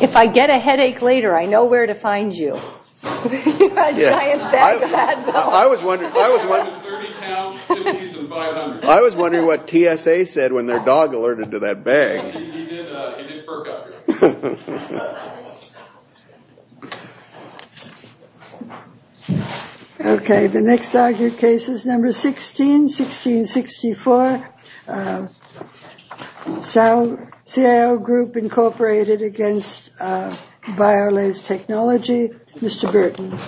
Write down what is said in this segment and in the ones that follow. If I get a headache later, I know where to find you. I was wondering what TSA said when their dog alerted to that bag. The next argued case is 16-16-64, CAO Group, Inc. v. Biolase Technology, Mr. Burton.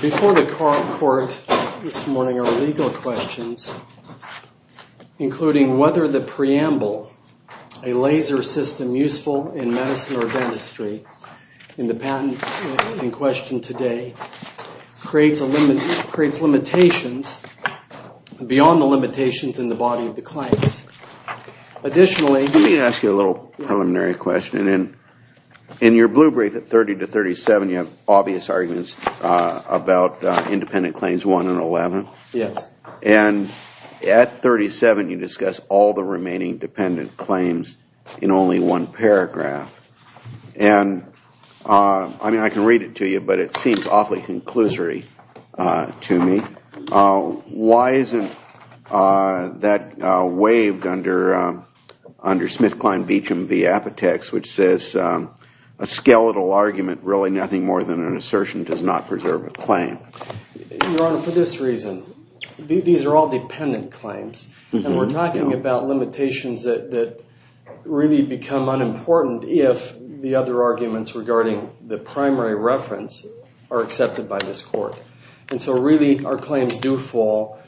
Before the court this morning are legal questions, including whether the preamble, a laser system useful in medicine or dentistry, in the patent in question today, creates limitations beyond the limitations in the body of the claims. Let me ask you a little preliminary question. In your blue brief at 30-37, you have obvious arguments about independent claims 1 and 11. Yes. And at 37, you discuss all the remaining dependent claims in only one paragraph. And I mean, I can read it to you, but it seems awfully conclusory to me. Why isn't that waived under SmithKline-Beacham v. Apotex, which says a skeletal argument, really nothing more than an assertion, does not preserve a claim? Your Honor, for this reason. These are all dependent claims. And we're talking about limitations that really become unimportant if the other arguments regarding the primary reference are accepted by this court. And so really our claims do fall,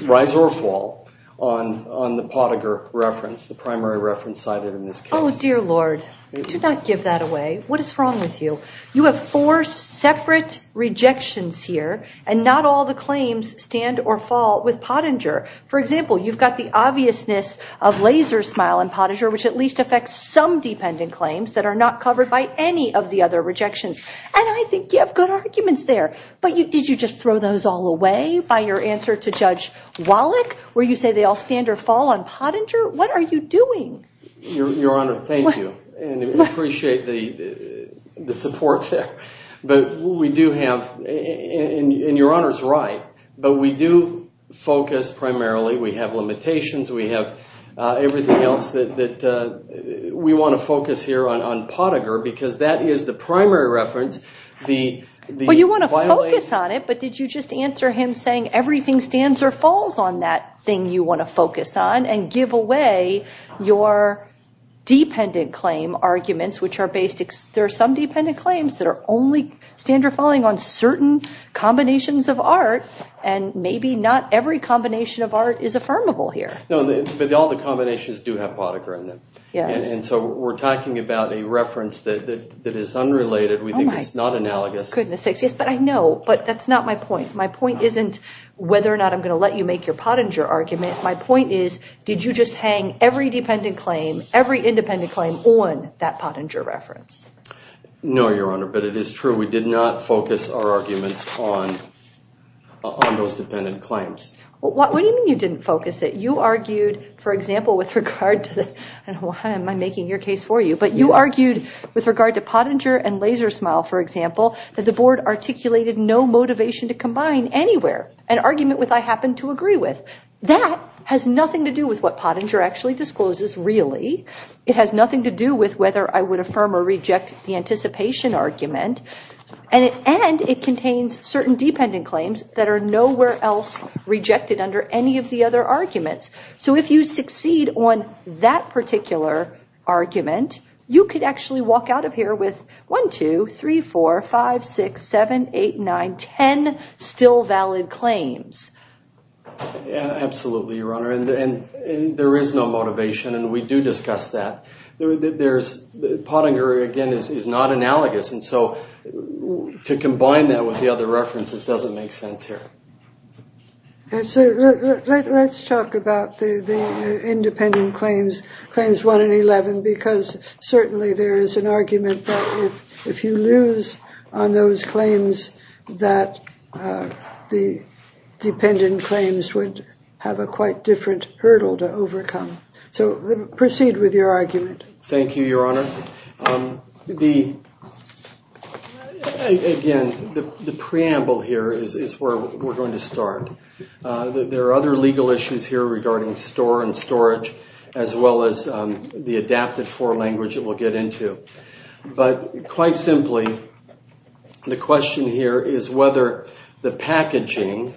rise or fall, on the Pottinger reference, the primary reference cited in this case. Oh, dear Lord, do not give that away. What is wrong with you? You have four separate rejections here, and not all the claims stand or fall with Pottinger. For example, you've got the obviousness of laser smile in Pottinger, which at least affects some dependent claims that are not covered by any of the other rejections. And I think you have good arguments there. But did you just throw those all away by your answer to Judge Wallach, where you say they all stand or fall on Pottinger? What are you doing? Your Honor, thank you. And we appreciate the support there. But we do have, and your Honor's right, but we do focus primarily, we have limitations, we have everything else that we want to focus here on Pottinger, because that is the primary reference. Well, you want to focus on it, but did you just answer him saying everything stands or falls on that thing you want to focus on and give away your dependent claim arguments, which are basic. There are some dependent claims that only stand or fall on certain combinations of art, and maybe not every combination of art is affirmable here. No, but all the combinations do have Pottinger in them. Yes. And so we're talking about a reference that is unrelated. Oh, my goodness. We think it's not analogous. Yes, but I know, but that's not my point. My point isn't whether or not I'm going to let you make your Pottinger argument. My point is, did you just hang every dependent claim, every independent claim on that Pottinger reference? No, your Honor, but it is true. We did not focus our arguments on those dependent claims. What do you mean you didn't focus it? I don't know why I'm making your case for you, but you argued with regard to Pottinger and Lasersmile, for example, that the Board articulated no motivation to combine anywhere an argument with I happen to agree with. That has nothing to do with what Pottinger actually discloses, really. It has nothing to do with whether I would affirm or reject the anticipation argument, and it contains certain dependent claims that are nowhere else rejected under any of the other arguments. So if you succeed on that particular argument, you could actually walk out of here with 1, 2, 3, 4, 5, 6, 7, 8, 9, 10 still valid claims. Absolutely, your Honor, and there is no motivation, and we do discuss that. Pottinger, again, is not analogous, and so to combine that with the other references doesn't make sense here. Let's talk about the independent claims, Claims 1 and 11, because certainly there is an argument that if you lose on those claims, that the dependent claims would have a quite different hurdle to overcome. So proceed with your argument. Thank you, your Honor. Again, the preamble here is where we're going to start. There are other legal issues here regarding store and storage, as well as the adapted-for language that we'll get into. But quite simply, the question here is whether the packaging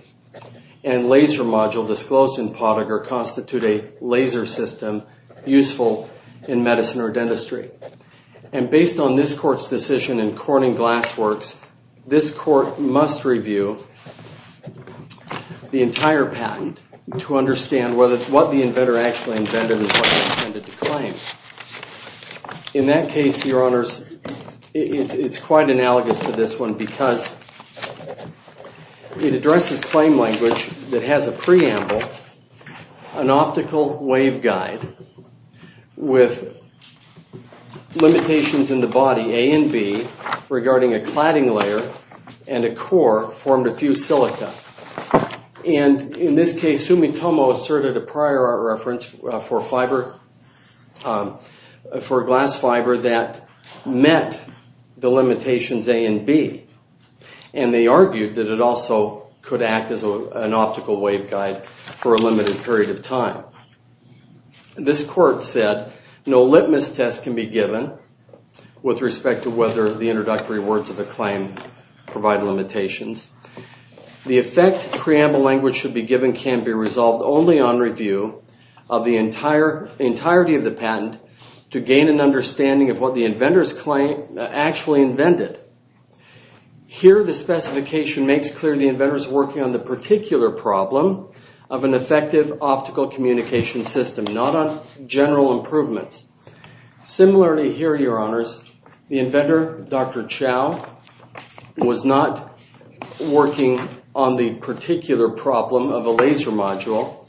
and laser module disclosed in Pottinger constitute a laser system useful in medicine or dentistry. And based on this Court's decision in Corning Glassworks, this Court must review the entire patent to understand what the inventor actually invented and what he intended to claim. In that case, your Honors, it's quite analogous to this one, because it addresses claim language that has a preamble, an optical waveguide, with limitations in the body, A and B, regarding a cladding layer and a core formed of fused silica. And in this case, Fumitomo asserted a prior art reference for fiber, for glass fiber that met the limitations A and B. And they argued that it also could act as an optical waveguide for a limited period of time. This Court said no litmus test can be given with respect to whether the introductory words of the claim provide limitations. The effect preamble language should be given can be resolved only on review of the entirety of the patent to gain an understanding of what the inventor's claim actually invented. Here, the specification makes clear the inventor's working on the particular problem of an effective optical communication system, not on general improvements. Similarly here, your Honors, the inventor, Dr. Chow, was not working on the particular problem of a laser module.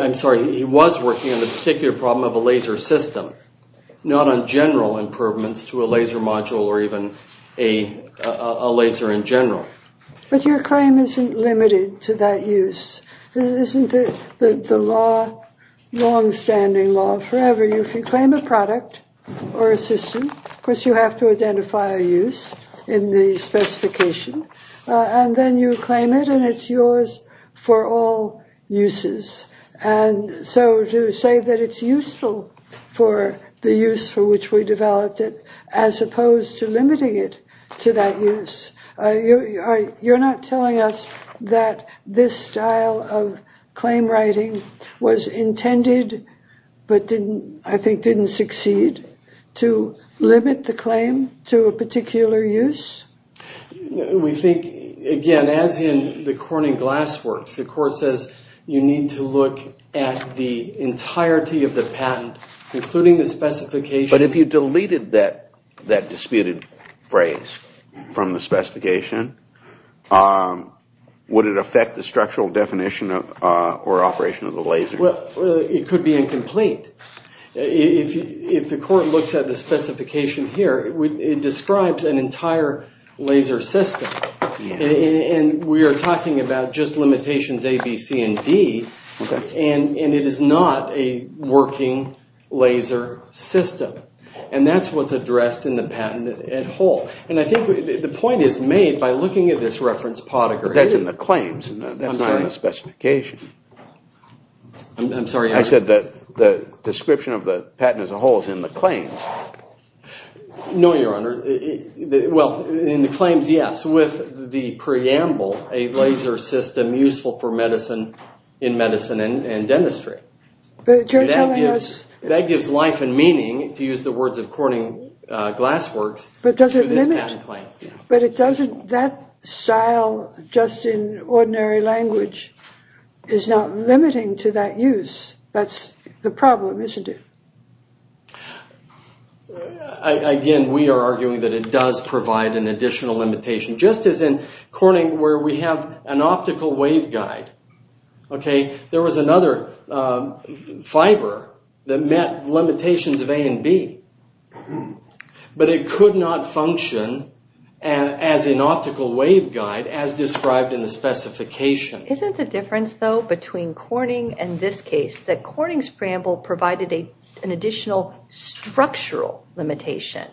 I'm sorry, he was working on the particular problem of a laser system, not on general improvements to a laser module or even a laser in general. But your claim isn't limited to that use. This isn't the long-standing law forever. If you claim a product or a system, of course, you have to identify a use in the specification. And then you claim it, and it's yours for all uses. And so to say that it's useful for the use for which we developed it as opposed to limiting it to that use, you're not telling us that this style of claim writing was intended, but I think didn't succeed, to limit the claim to a particular use? We think, again, as in the corn and glass works, the court says you need to look at the entirety of the patent, including the specification. But if you deleted that disputed phrase from the specification, would it affect the structural definition or operation of the laser? Well, it could be incomplete. If the court looks at the specification here, it describes an entire laser system. And we are talking about just limitations A, B, C, and D. And it is not a working laser system. And that's what's addressed in the patent at whole. And I think the point is made by looking at this reference podigram. But that's in the claims. That's not in the specification. I'm sorry, Your Honor. I said that the description of the patent as a whole is in the claims. No, Your Honor. Well, in the claims, yes. With the preamble, a laser system useful for medicine, in medicine and dentistry. That gives life and meaning, to use the words of corning glass works, to this patent claim. But that style, just in ordinary language, is not limiting to that use. That's the problem, isn't it? Again, we are arguing that it does provide an additional limitation. Just as in corning where we have an optical waveguide. Okay? There was another fiber that met limitations of A and B. But it could not function as an optical waveguide as described in the specification. Isn't the difference, though, between corning and this case, that corning's preamble provided an additional structural limitation?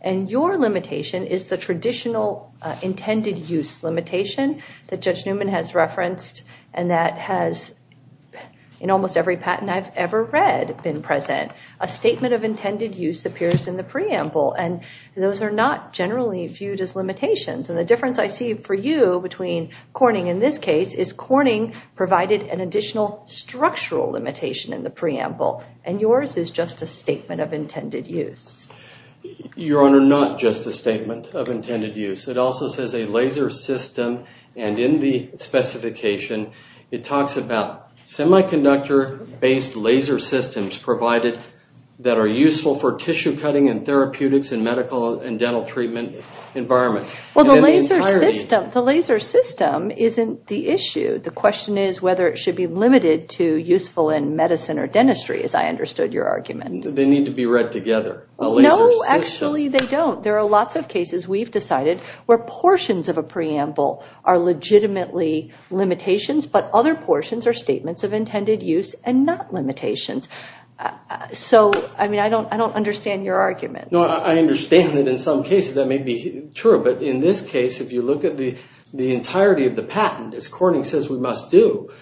And your limitation is the traditional intended use limitation that Judge Newman has referenced. And that has, in almost every patent I've ever read, been present. A statement of intended use appears in the preamble. And those are not generally viewed as limitations. And the difference I see for you between corning and this case is corning provided an additional structural limitation in the preamble. And yours is just a statement of intended use. Your Honor, not just a statement of intended use. It also says a laser system. And in the specification, it talks about semiconductor-based laser systems provided that are useful for tissue cutting and therapeutics in medical and dental treatment environments. Well, the laser system isn't the issue. The question is whether it should be limited to useful in medicine or dentistry, as I understood your argument. They need to be read together. No, actually, they don't. There are lots of cases we've decided where portions of a preamble are legitimately limitations, but other portions are statements of intended use and not limitations. So, I mean, I don't understand your argument. No, I understand that in some cases that may be true. But in this case, if you look at the entirety of the patent, as corning says we must do,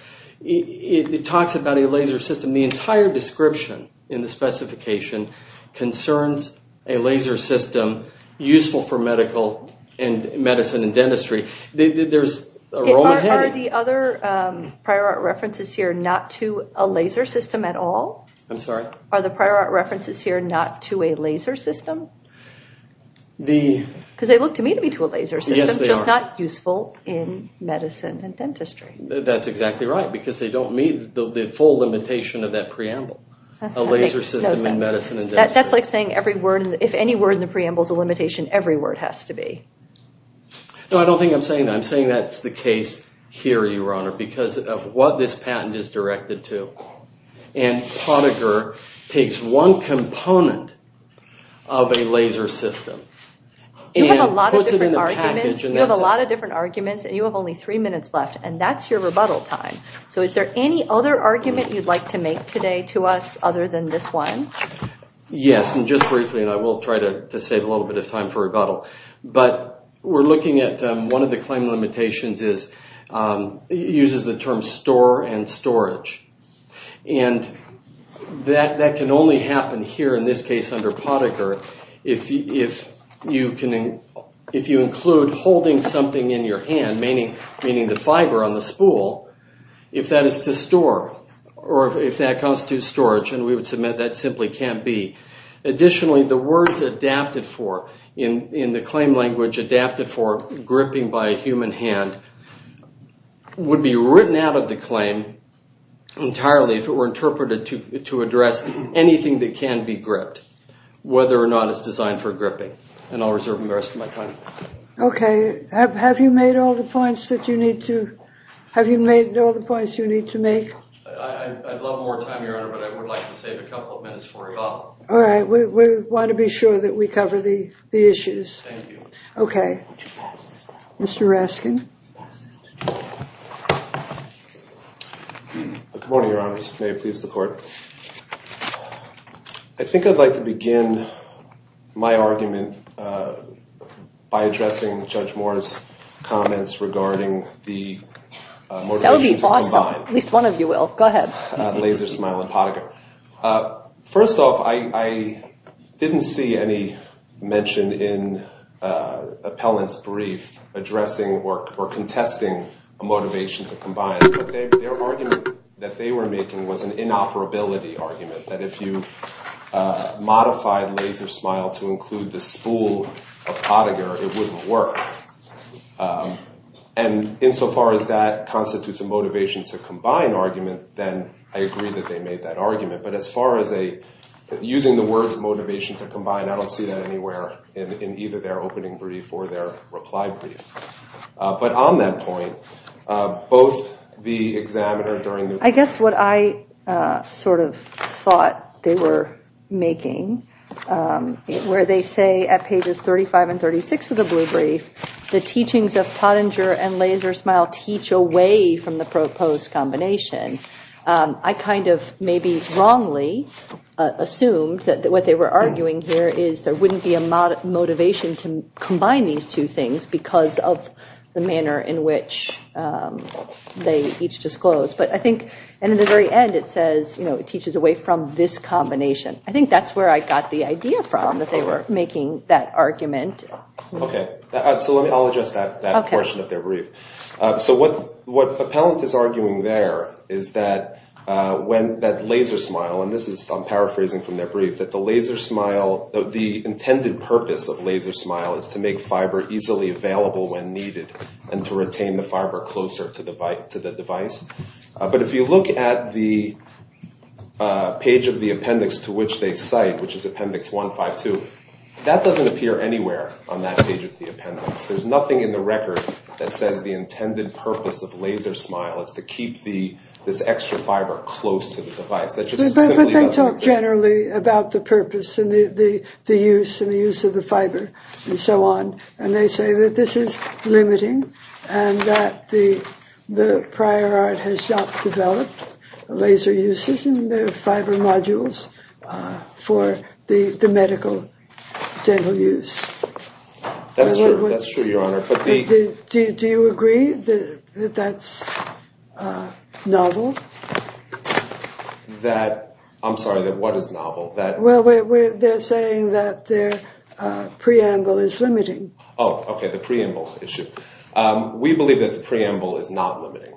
it talks about a laser system. The entire description in the specification concerns a laser system useful for medical and medicine and dentistry. There's a role ahead of you. Are the other prior art references here not to a laser system at all? I'm sorry? Are the prior art references here not to a laser system? Because they look to me to be to a laser system, just not useful in medicine and dentistry. That's exactly right, because they don't meet the full limitation of that preamble, a laser system in medicine and dentistry. That's like saying if any word in the preamble is a limitation, every word has to be. No, I don't think I'm saying that. I'm saying that's the case here, your honor, because of what this patent is directed to. And Poniker takes one component of a laser system and puts it in the package. You have a lot of different arguments, and you have only three minutes left, and that's your rebuttal time. So is there any other argument you'd like to make today to us other than this one? Yes, and just briefly, and I will try to save a little bit of time for rebuttal. But we're looking at one of the claim limitations is it uses the term store and storage. And that can only happen here in this case under Poniker if you include holding something in your hand, meaning the fiber on the spool, if that is to store or if that constitutes storage, and we would submit that simply can't be. Additionally, the words adapted for in the claim language, adapted for gripping by a human hand, would be written out of the claim entirely if it were interpreted to address anything that can be gripped, whether or not it's designed for gripping. And I'll reserve the rest of my time. Okay, have you made all the points that you need to make? I'd love more time, Your Honor, but I would like to save a couple of minutes for rebuttal. All right, we want to be sure that we cover the issues. Thank you. Okay. Mr. Raskin. Good morning, Your Honors. May it please the Court. I think I'd like to begin my argument by addressing Judge Moore's comments regarding the motivation to combine. At least one of you will. Go ahead. LaserSmile and Pottinger. First off, I didn't see any mention in Appellant's brief addressing or contesting a motivation to combine, but their argument that they were making was an inoperability argument, that if you modified LaserSmile to include the spool of Pottinger, it wouldn't work. And insofar as that constitutes a motivation to combine argument, then I agree that they made that argument. But as far as using the words motivation to combine, I don't see that anywhere in either their opening brief or their reply brief. But on that point, both the examiner during the- I guess what I sort of thought they were making, where they say at pages 35 and 36 of the brief, the teachings of Pottinger and LaserSmile teach away from the proposed combination. I kind of maybe wrongly assumed that what they were arguing here is there wouldn't be a motivation to combine these two things because of the manner in which they each disclosed. But I think in the very end it says, you know, it teaches away from this combination. I think that's where I got the idea from, that they were making that argument. Okay, so I'll address that portion of their brief. So what Appellant is arguing there is that LaserSmile, and this is, I'm paraphrasing from their brief, that the intended purpose of LaserSmile is to make fiber easily available when needed and to retain the fiber closer to the device. But if you look at the page of the appendix to which they cite, which is appendix 152, that doesn't appear anywhere on that page of the appendix. There's nothing in the record that says the intended purpose of LaserSmile is to keep this extra fiber close to the device. But they talk generally about the purpose and the use of the fiber and so on. And they say that this is limiting and that the prior art has not developed laser uses in the fiber modules for the medical dental use. That's true, Your Honor. Do you agree that that's novel? That, I'm sorry, that what is novel? Well, they're saying that their preamble is limiting. Oh, okay, the preamble issue. We believe that the preamble is not limiting.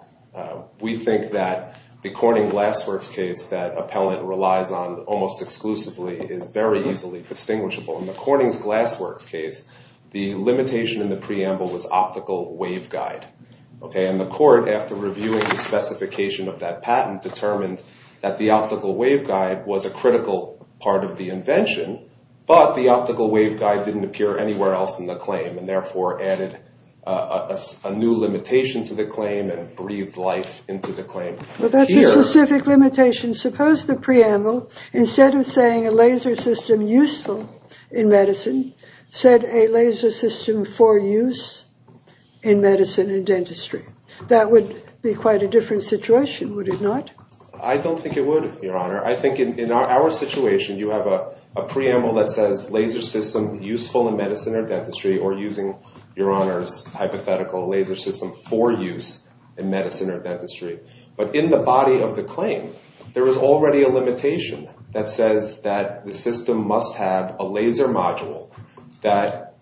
We think that the Corning Glassworks case that Appellant relies on almost exclusively is very easily distinguishable. In the Corning's Glassworks case, the limitation in the preamble was optical waveguide. And the court, after reviewing the specification of that patent, determined that the optical waveguide was a critical part of the invention, but the optical waveguide didn't appear anywhere else in the claim and therefore added a new limitation to the claim and breathed life into the claim. Well, that's a specific limitation. Suppose the preamble, instead of saying a laser system useful in medicine, said a laser system for use in medicine and dentistry. That would be quite a different situation, would it not? I don't think it would, Your Honor. I think in our situation, you have a preamble that says laser system useful in medicine or dentistry or using, Your Honor's hypothetical, laser system for use in medicine or dentistry. But in the body of the claim, there is already a limitation that says that the system must have a laser module that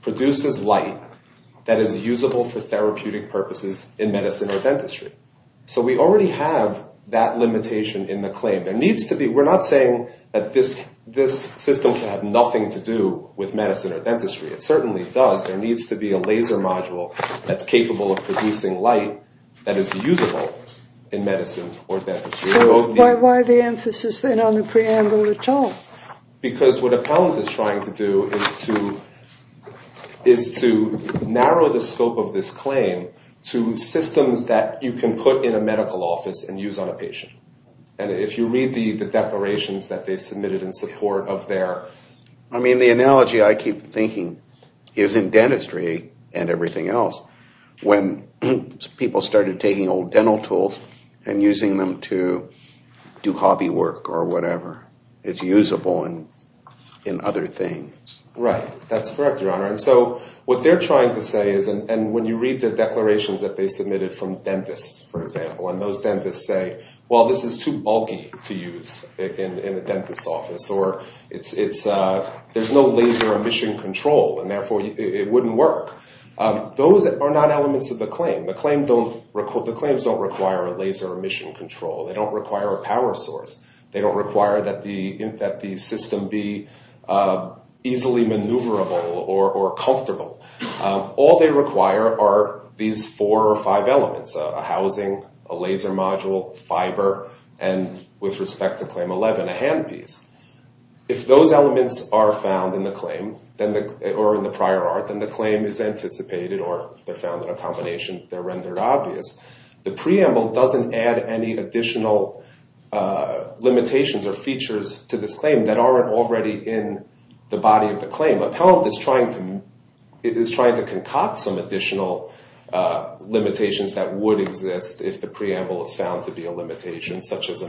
produces light that is usable for therapeutic purposes in medicine or dentistry. So we already have that limitation in the claim. We're not saying that this system can have nothing to do with medicine or dentistry. It certainly does. There needs to be a laser module that's capable of producing light that is usable in medicine or dentistry. So why the emphasis then on the preamble at all? Because what Appellant is trying to do is to narrow the scope of this claim to systems that you can put in a medical office and use on a patient. And if you read the declarations that they submitted in support of their— I mean, the analogy I keep thinking is in dentistry and everything else. When people started taking old dental tools and using them to do hobby work or whatever, it's usable in other things. Right. That's correct, Your Honor. And so what they're trying to say is— and when you read the declarations that they submitted from dentists, for example, and those dentists say, well, this is too bulky to use in a dentist's office or there's no laser emission control and therefore it wouldn't work. Those are not elements of the claim. The claims don't require a laser emission control. They don't require a power source. They don't require that the system be easily maneuverable or comfortable. All they require are these four or five elements, a housing, a laser module, fiber, and with respect to Claim 11, a handpiece. If those elements are found in the claim or in the prior art, then the claim is anticipated or if they're found in a combination, they're rendered obvious. The preamble doesn't add any additional limitations or features to this claim that aren't already in the body of the claim. Appellant is trying to concoct some additional limitations that would exist if the preamble is found to be a limitation such as a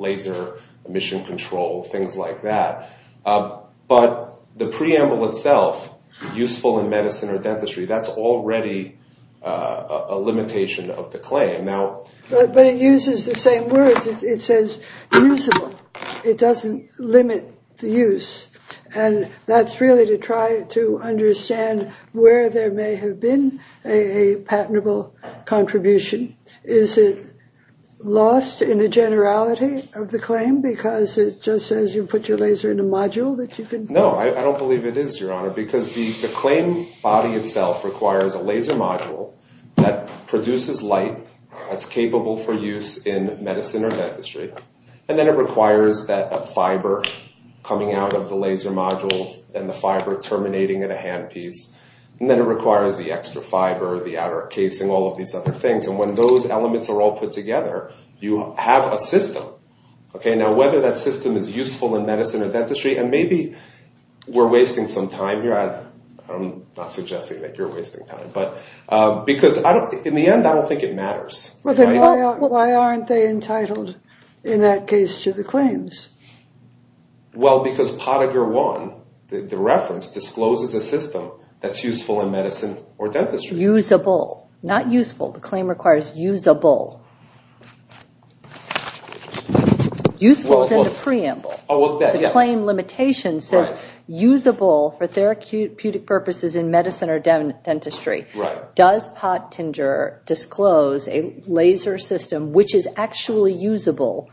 laser emission control, things like that. But the preamble itself, useful in medicine or dentistry, that's already a limitation of the claim. But it uses the same words. It says usable. It doesn't limit the use. And that's really to try to understand where there may have been a patentable contribution. Is it lost in the generality of the claim because it just says you put your laser in a module? No, I don't believe it is, Your Honor, because the claim body itself requires a laser module that produces light and then it requires that fiber coming out of the laser module and the fiber terminating in a handpiece. And then it requires the extra fiber, the outer casing, all of these other things. And when those elements are all put together, you have a system. Okay, now whether that system is useful in medicine or dentistry, and maybe we're wasting some time here. I'm not suggesting that you're wasting time, but because in the end, I don't think it matters. Well, then why aren't they entitled in that case to the claims? Well, because Pottinger 1, the reference, discloses a system that's useful in medicine or dentistry. Usable, not useful. The claim requires usable. Useful is in the preamble. The claim limitation says usable for therapeutic purposes in medicine or dentistry. Does Pottinger disclose a laser system which is actually usable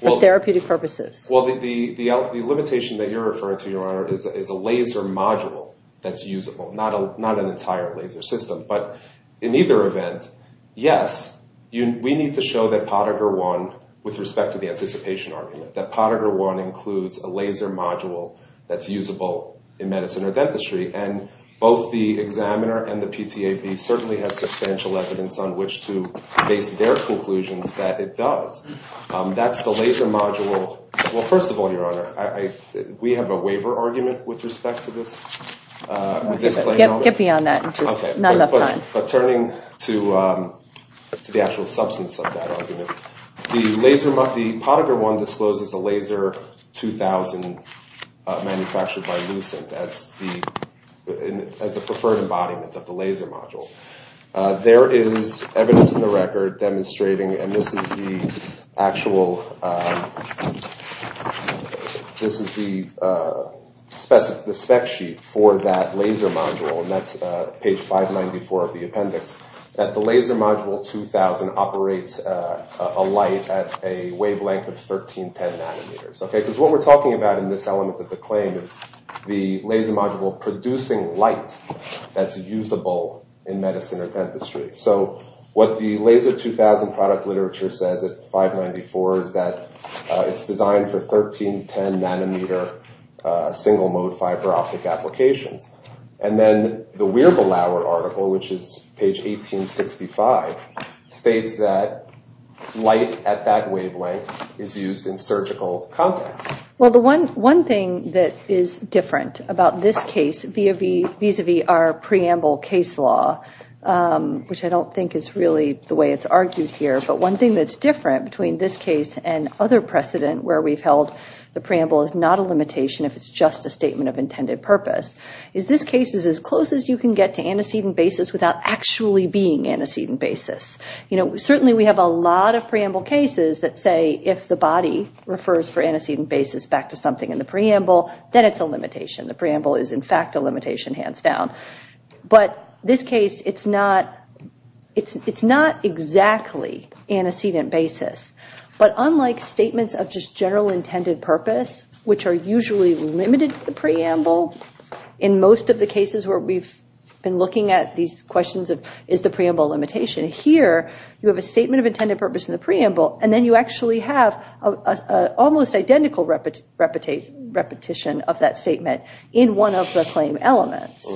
for therapeutic purposes? Well, the limitation that you're referring to, Your Honor, is a laser module that's usable, not an entire laser system. But in either event, yes, we need to show that Pottinger 1, with respect to the anticipation argument, that Pottinger 1 includes a laser module that's usable in medicine or dentistry. And both the examiner and the PTAB certainly have substantial evidence on which to base their conclusions that it does. That's the laser module. Well, first of all, Your Honor, we have a waiver argument with respect to this claim. Get me on that, which is not enough time. But turning to the actual substance of that argument, the Pottinger 1 discloses a laser 2000 manufactured by Lucent as the preferred embodiment of the laser module. There is evidence in the record demonstrating, and this is the actual, this is the spec sheet for that laser module, and that's page 594 of the appendix, that the laser module 2000 operates a light at a wavelength of 1310 nanometers. Because what we're talking about in this element of the claim is the laser module producing light that's usable in medicine or dentistry. So what the laser 2000 product literature says at 594 is that it's designed for 1310 nanometer single-mode fiber optic applications. And then the Wirbelauer article, which is page 1865, states that light at that wavelength is used in surgical contexts. Well, the one thing that is different about this case vis-a-vis our preamble case law, which I don't think is really the way it's argued here, but one thing that's different between this case and other precedent where we've held the preamble is not a limitation if it's just a statement of intended purpose. This case is as close as you can get to antecedent basis without actually being antecedent basis. Certainly we have a lot of preamble cases that say if the body refers for antecedent basis back to something in the preamble, then it's a limitation. The preamble is, in fact, a limitation, hands down. But this case, it's not exactly antecedent basis. But unlike statements of just general intended purpose, which are usually limited to the preamble, in most of the cases where we've been looking at these questions of is the preamble a limitation, here you have a statement of intended purpose in the preamble, and then you actually have an almost identical repetition of that statement in one of the claim elements.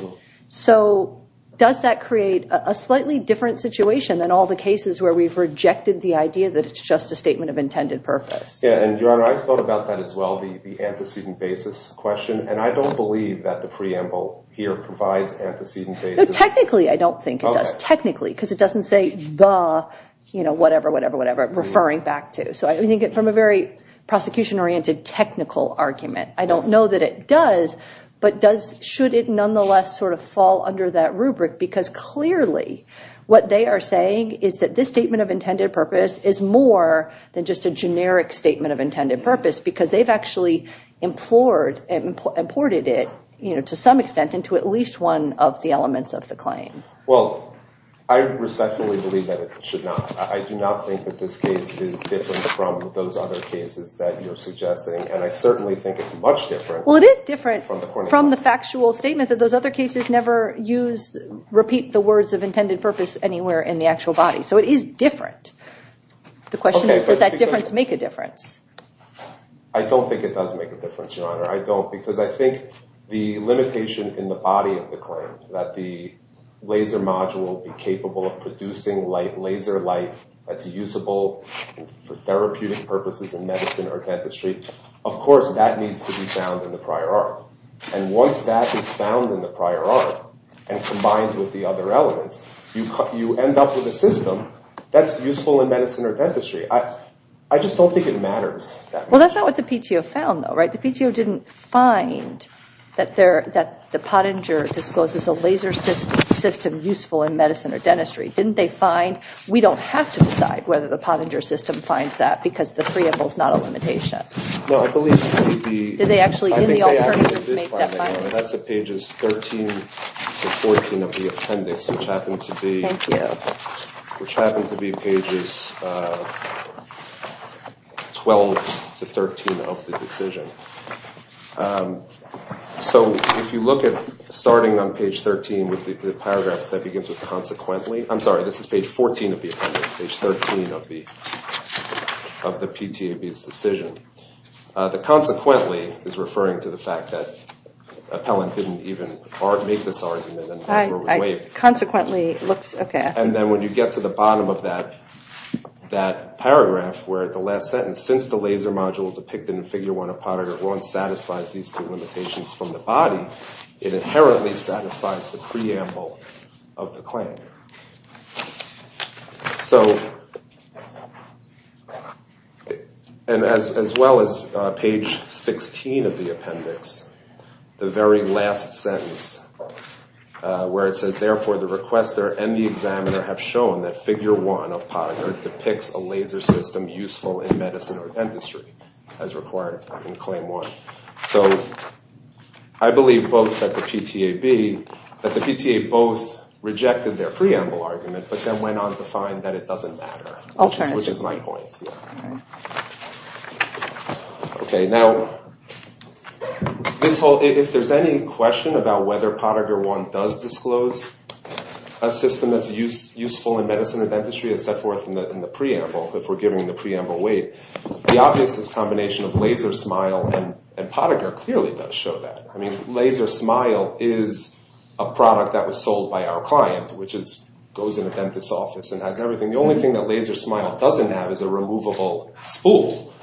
So does that create a slightly different situation than all the cases where we've rejected the idea that it's just a statement of intended purpose? Yeah, and Your Honor, I thought about that as well, the antecedent basis question, and I don't believe that the preamble here provides antecedent basis. Technically, I don't think it does, technically, because it doesn't say the whatever, whatever, whatever, referring back to. So I think from a very prosecution-oriented technical argument, I don't know that it does, but should it nonetheless sort of fall under that rubric? Because clearly what they are saying is that this statement of intended purpose is more than just a generic statement of intended purpose, because they've actually imported it to some extent into at least one of the elements of the claim. Well, I respectfully believe that it should not. I do not think that this case is different from those other cases that you're suggesting, and I certainly think it's much different. Well, it is different from the factual statement that those other cases never use, repeat the words of intended purpose anywhere in the actual body. So it is different. The question is, does that difference make a difference? I don't think it does make a difference, Your Honor. I don't, because I think the limitation in the body of the claim, that the laser module will be capable of producing laser light that's usable for therapeutic purposes in medicine or dentistry, of course that needs to be found in the prior art. And once that is found in the prior art and combined with the other elements, you end up with a system that's useful in medicine or dentistry. I just don't think it matters. Well, that's not what the PTO found, though, right? The PTO didn't find that the Pottinger discloses a laser system useful in medicine or dentistry. We don't have to decide whether the Pottinger system finds that, because the preamble is not a limitation. No, I believe it would be the alternative. I think they actually did find that, Your Honor. That's at pages 13 to 14 of the appendix, which happened to be pages 12 to 13 of the decision. So if you look at starting on page 13 with the paragraph that begins with consequently, I'm sorry, this is page 14 of the appendix, page 13 of the PTOB's decision. The consequently is referring to the fact that Appellant didn't even make this argument. I consequently looks, okay. And then when you get to the bottom of that paragraph where the last sentence, that since the laser module depicted in Figure 1 of Pottinger won't satisfy these two limitations from the body, it inherently satisfies the preamble of the claim. So as well as page 16 of the appendix, the very last sentence where it says, therefore the requester and the examiner have shown that Figure 1 of Pottinger depicts a laser system useful in medicine or dentistry, as required in Claim 1. So I believe both at the PTAB, that the PTA both rejected their preamble argument, but then went on to find that it doesn't matter, which is my point. Okay. Now, if there's any question about whether Pottinger 1 does disclose a system that's useful in medicine or dentistry, as set forth in the preamble, if we're giving the preamble weight, the obvious is combination of laser, smile, and Pottinger clearly does show that. I mean, laser, smile is a product that was sold by our client, which goes in the dentist's office and has everything. The only thing that laser, smile doesn't have is a removable spool.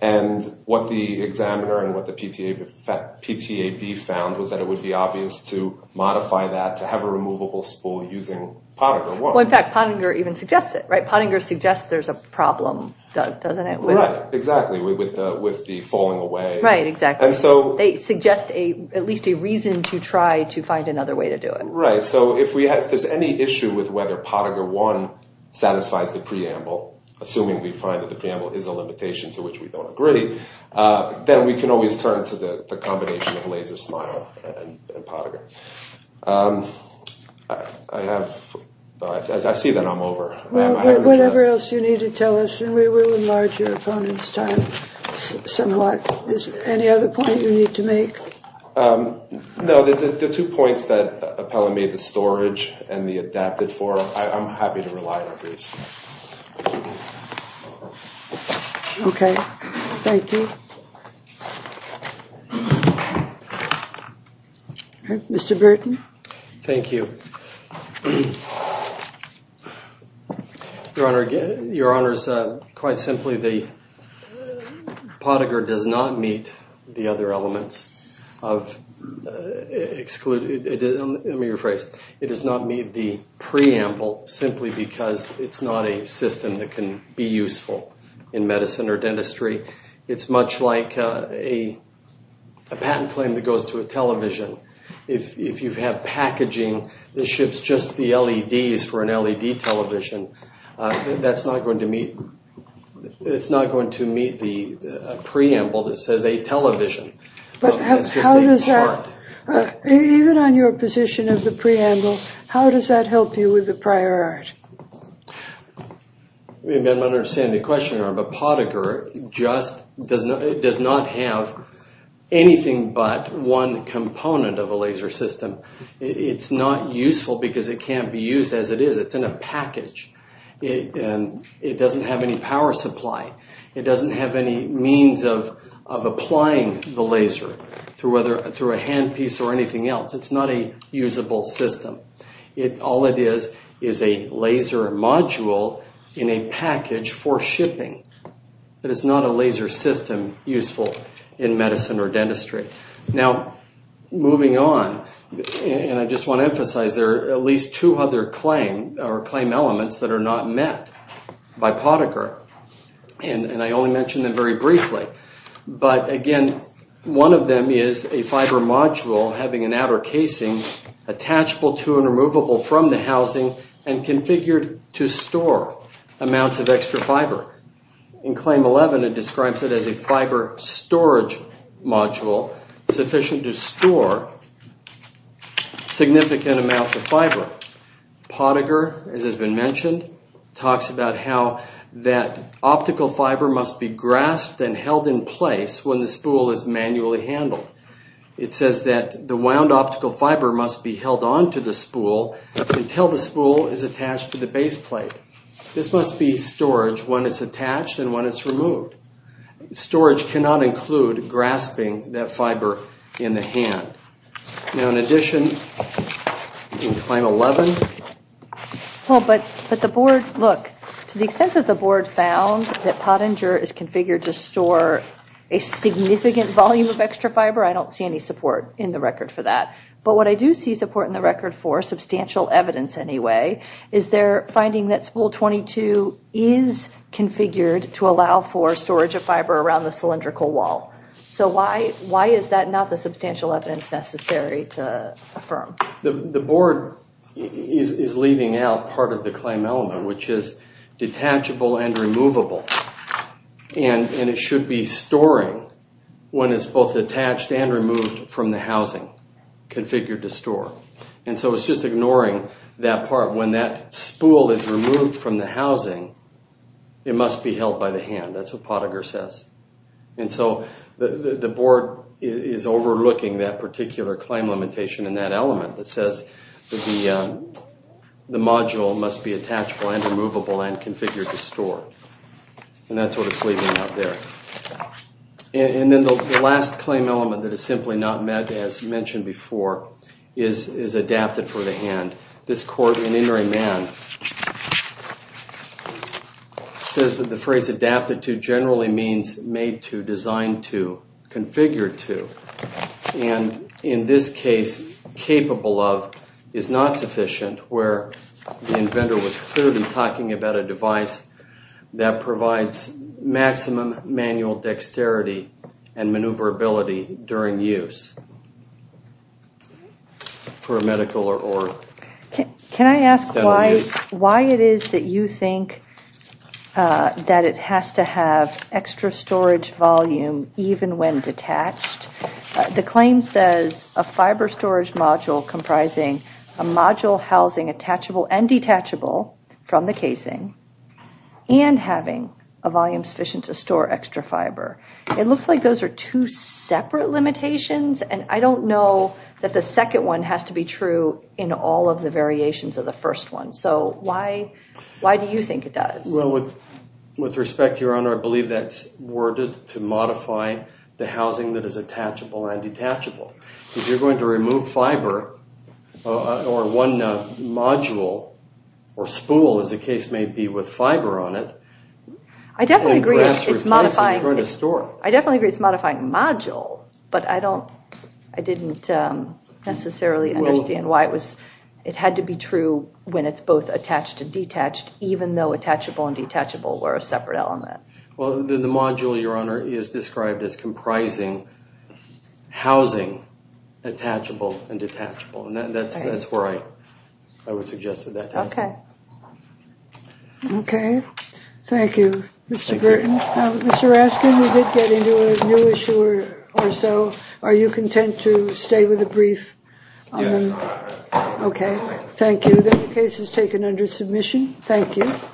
And what the examiner and what the PTAB found was that it would be obvious to modify that to have a removable spool using Pottinger 1. Well, in fact, Pottinger even suggests it, right? Pottinger suggests there's a problem, doesn't it? Right, exactly, with the falling away. Right, exactly. And so they suggest at least a reason to try to find another way to do it. Right, so if there's any issue with whether Pottinger 1 satisfies the preamble, assuming we find that the preamble is a limitation to which we don't agree, then we can always turn to the combination of laser, smile, and Pottinger. I see that I'm over. Whatever else you need to tell us, and we will enlarge your opponent's time somewhat. Is there any other point you need to make? No, the two points that Appella made, the storage and the adapted form, I'm happy to rely on those. Okay, thank you. Mr. Burton. Thank you. Your Honor, quite simply, Pottinger does not meet the other elements. Let me rephrase. It does not meet the preamble simply because it's not a system that can be useful in medicine or dentistry. It's much like a patent claim that goes to a television. If you have packaging that ships just the LEDs for an LED television, that's not going to meet the preamble that says a television. Even on your position of the preamble, how does that help you with the prior art? I don't understand the question, Your Honor, but Pottinger does not have anything but one component of a laser system. It's not useful because it can't be used as it is. It's in a package, and it doesn't have any power supply. It doesn't have any means of applying the laser through a handpiece or anything else. It's not a usable system. All it is is a laser module in a package for shipping. It is not a laser system useful in medicine or dentistry. Now, moving on, and I just want to emphasize there are at least two other claim elements that are not met by Pottinger, and I only mentioned them very briefly. But, again, one of them is a fiber module having an outer casing, attachable to and removable from the housing and configured to store amounts of extra fiber. In Claim 11, it describes it as a fiber storage module sufficient to store significant amounts of fiber. Pottinger, as has been mentioned, talks about how that optical fiber must be grasped and held in place when the spool is manually handled. It says that the wound optical fiber must be held on to the spool until the spool is attached to the base plate. This must be storage when it's attached and when it's removed. Storage cannot include grasping that fiber in the hand. Now, in addition, in Claim 11. Well, but the board, look, to the extent that the board found that Pottinger is configured to store a significant volume of extra fiber, I don't see any support in the record for that. But what I do see support in the record for, substantial evidence anyway, is their finding that spool 22 is configured to allow for storage of fiber around the cylindrical wall. So why is that not the substantial evidence necessary to affirm? The board is leaving out part of the Claim 11, which is detachable and removable. And it should be storing when it's both attached and removed from the housing, configured to store. And so it's just ignoring that part. When that spool is removed from the housing, it must be held by the hand. That's what Pottinger says. And so the board is overlooking that particular claim limitation in that element that says the module must be attachable and removable and configured to store. And that's what it's leaving out there. And then the last claim element that is simply not met, as mentioned before, is adapted for the hand. And this court in Inriman says that the phrase adapted to generally means made to, designed to, configured to. And in this case, capable of, is not sufficient, where the inventor was clearly talking about a device that provides maximum manual dexterity and maneuverability during use. For a medical or dental use. Can I ask why it is that you think that it has to have extra storage volume even when detached? The claim says a fiber storage module comprising a module housing attachable and detachable from the casing and having a volume sufficient to store extra fiber. It looks like those are two separate limitations. And I don't know that the second one has to be true in all of the variations of the first one. So why do you think it does? Well, with respect, Your Honor, I believe that's worded to modify the housing that is attachable and detachable. If you're going to remove fiber or one module or spool, as the case may be, with fiber on it. I definitely agree it's modifying module, but I didn't necessarily understand why it had to be true when it's both attached and detached, even though attachable and detachable were a separate element. Well, the module, Your Honor, is described as comprising housing attachable and detachable. And that's where I would suggest that that has to be. Okay. Okay. Thank you, Mr. Burton. Mr. Raskin, you did get into a new issue or so. Are you content to stay with the brief? Yes, Your Honor. Okay. Thank you. The case is taken under submission. Thank you.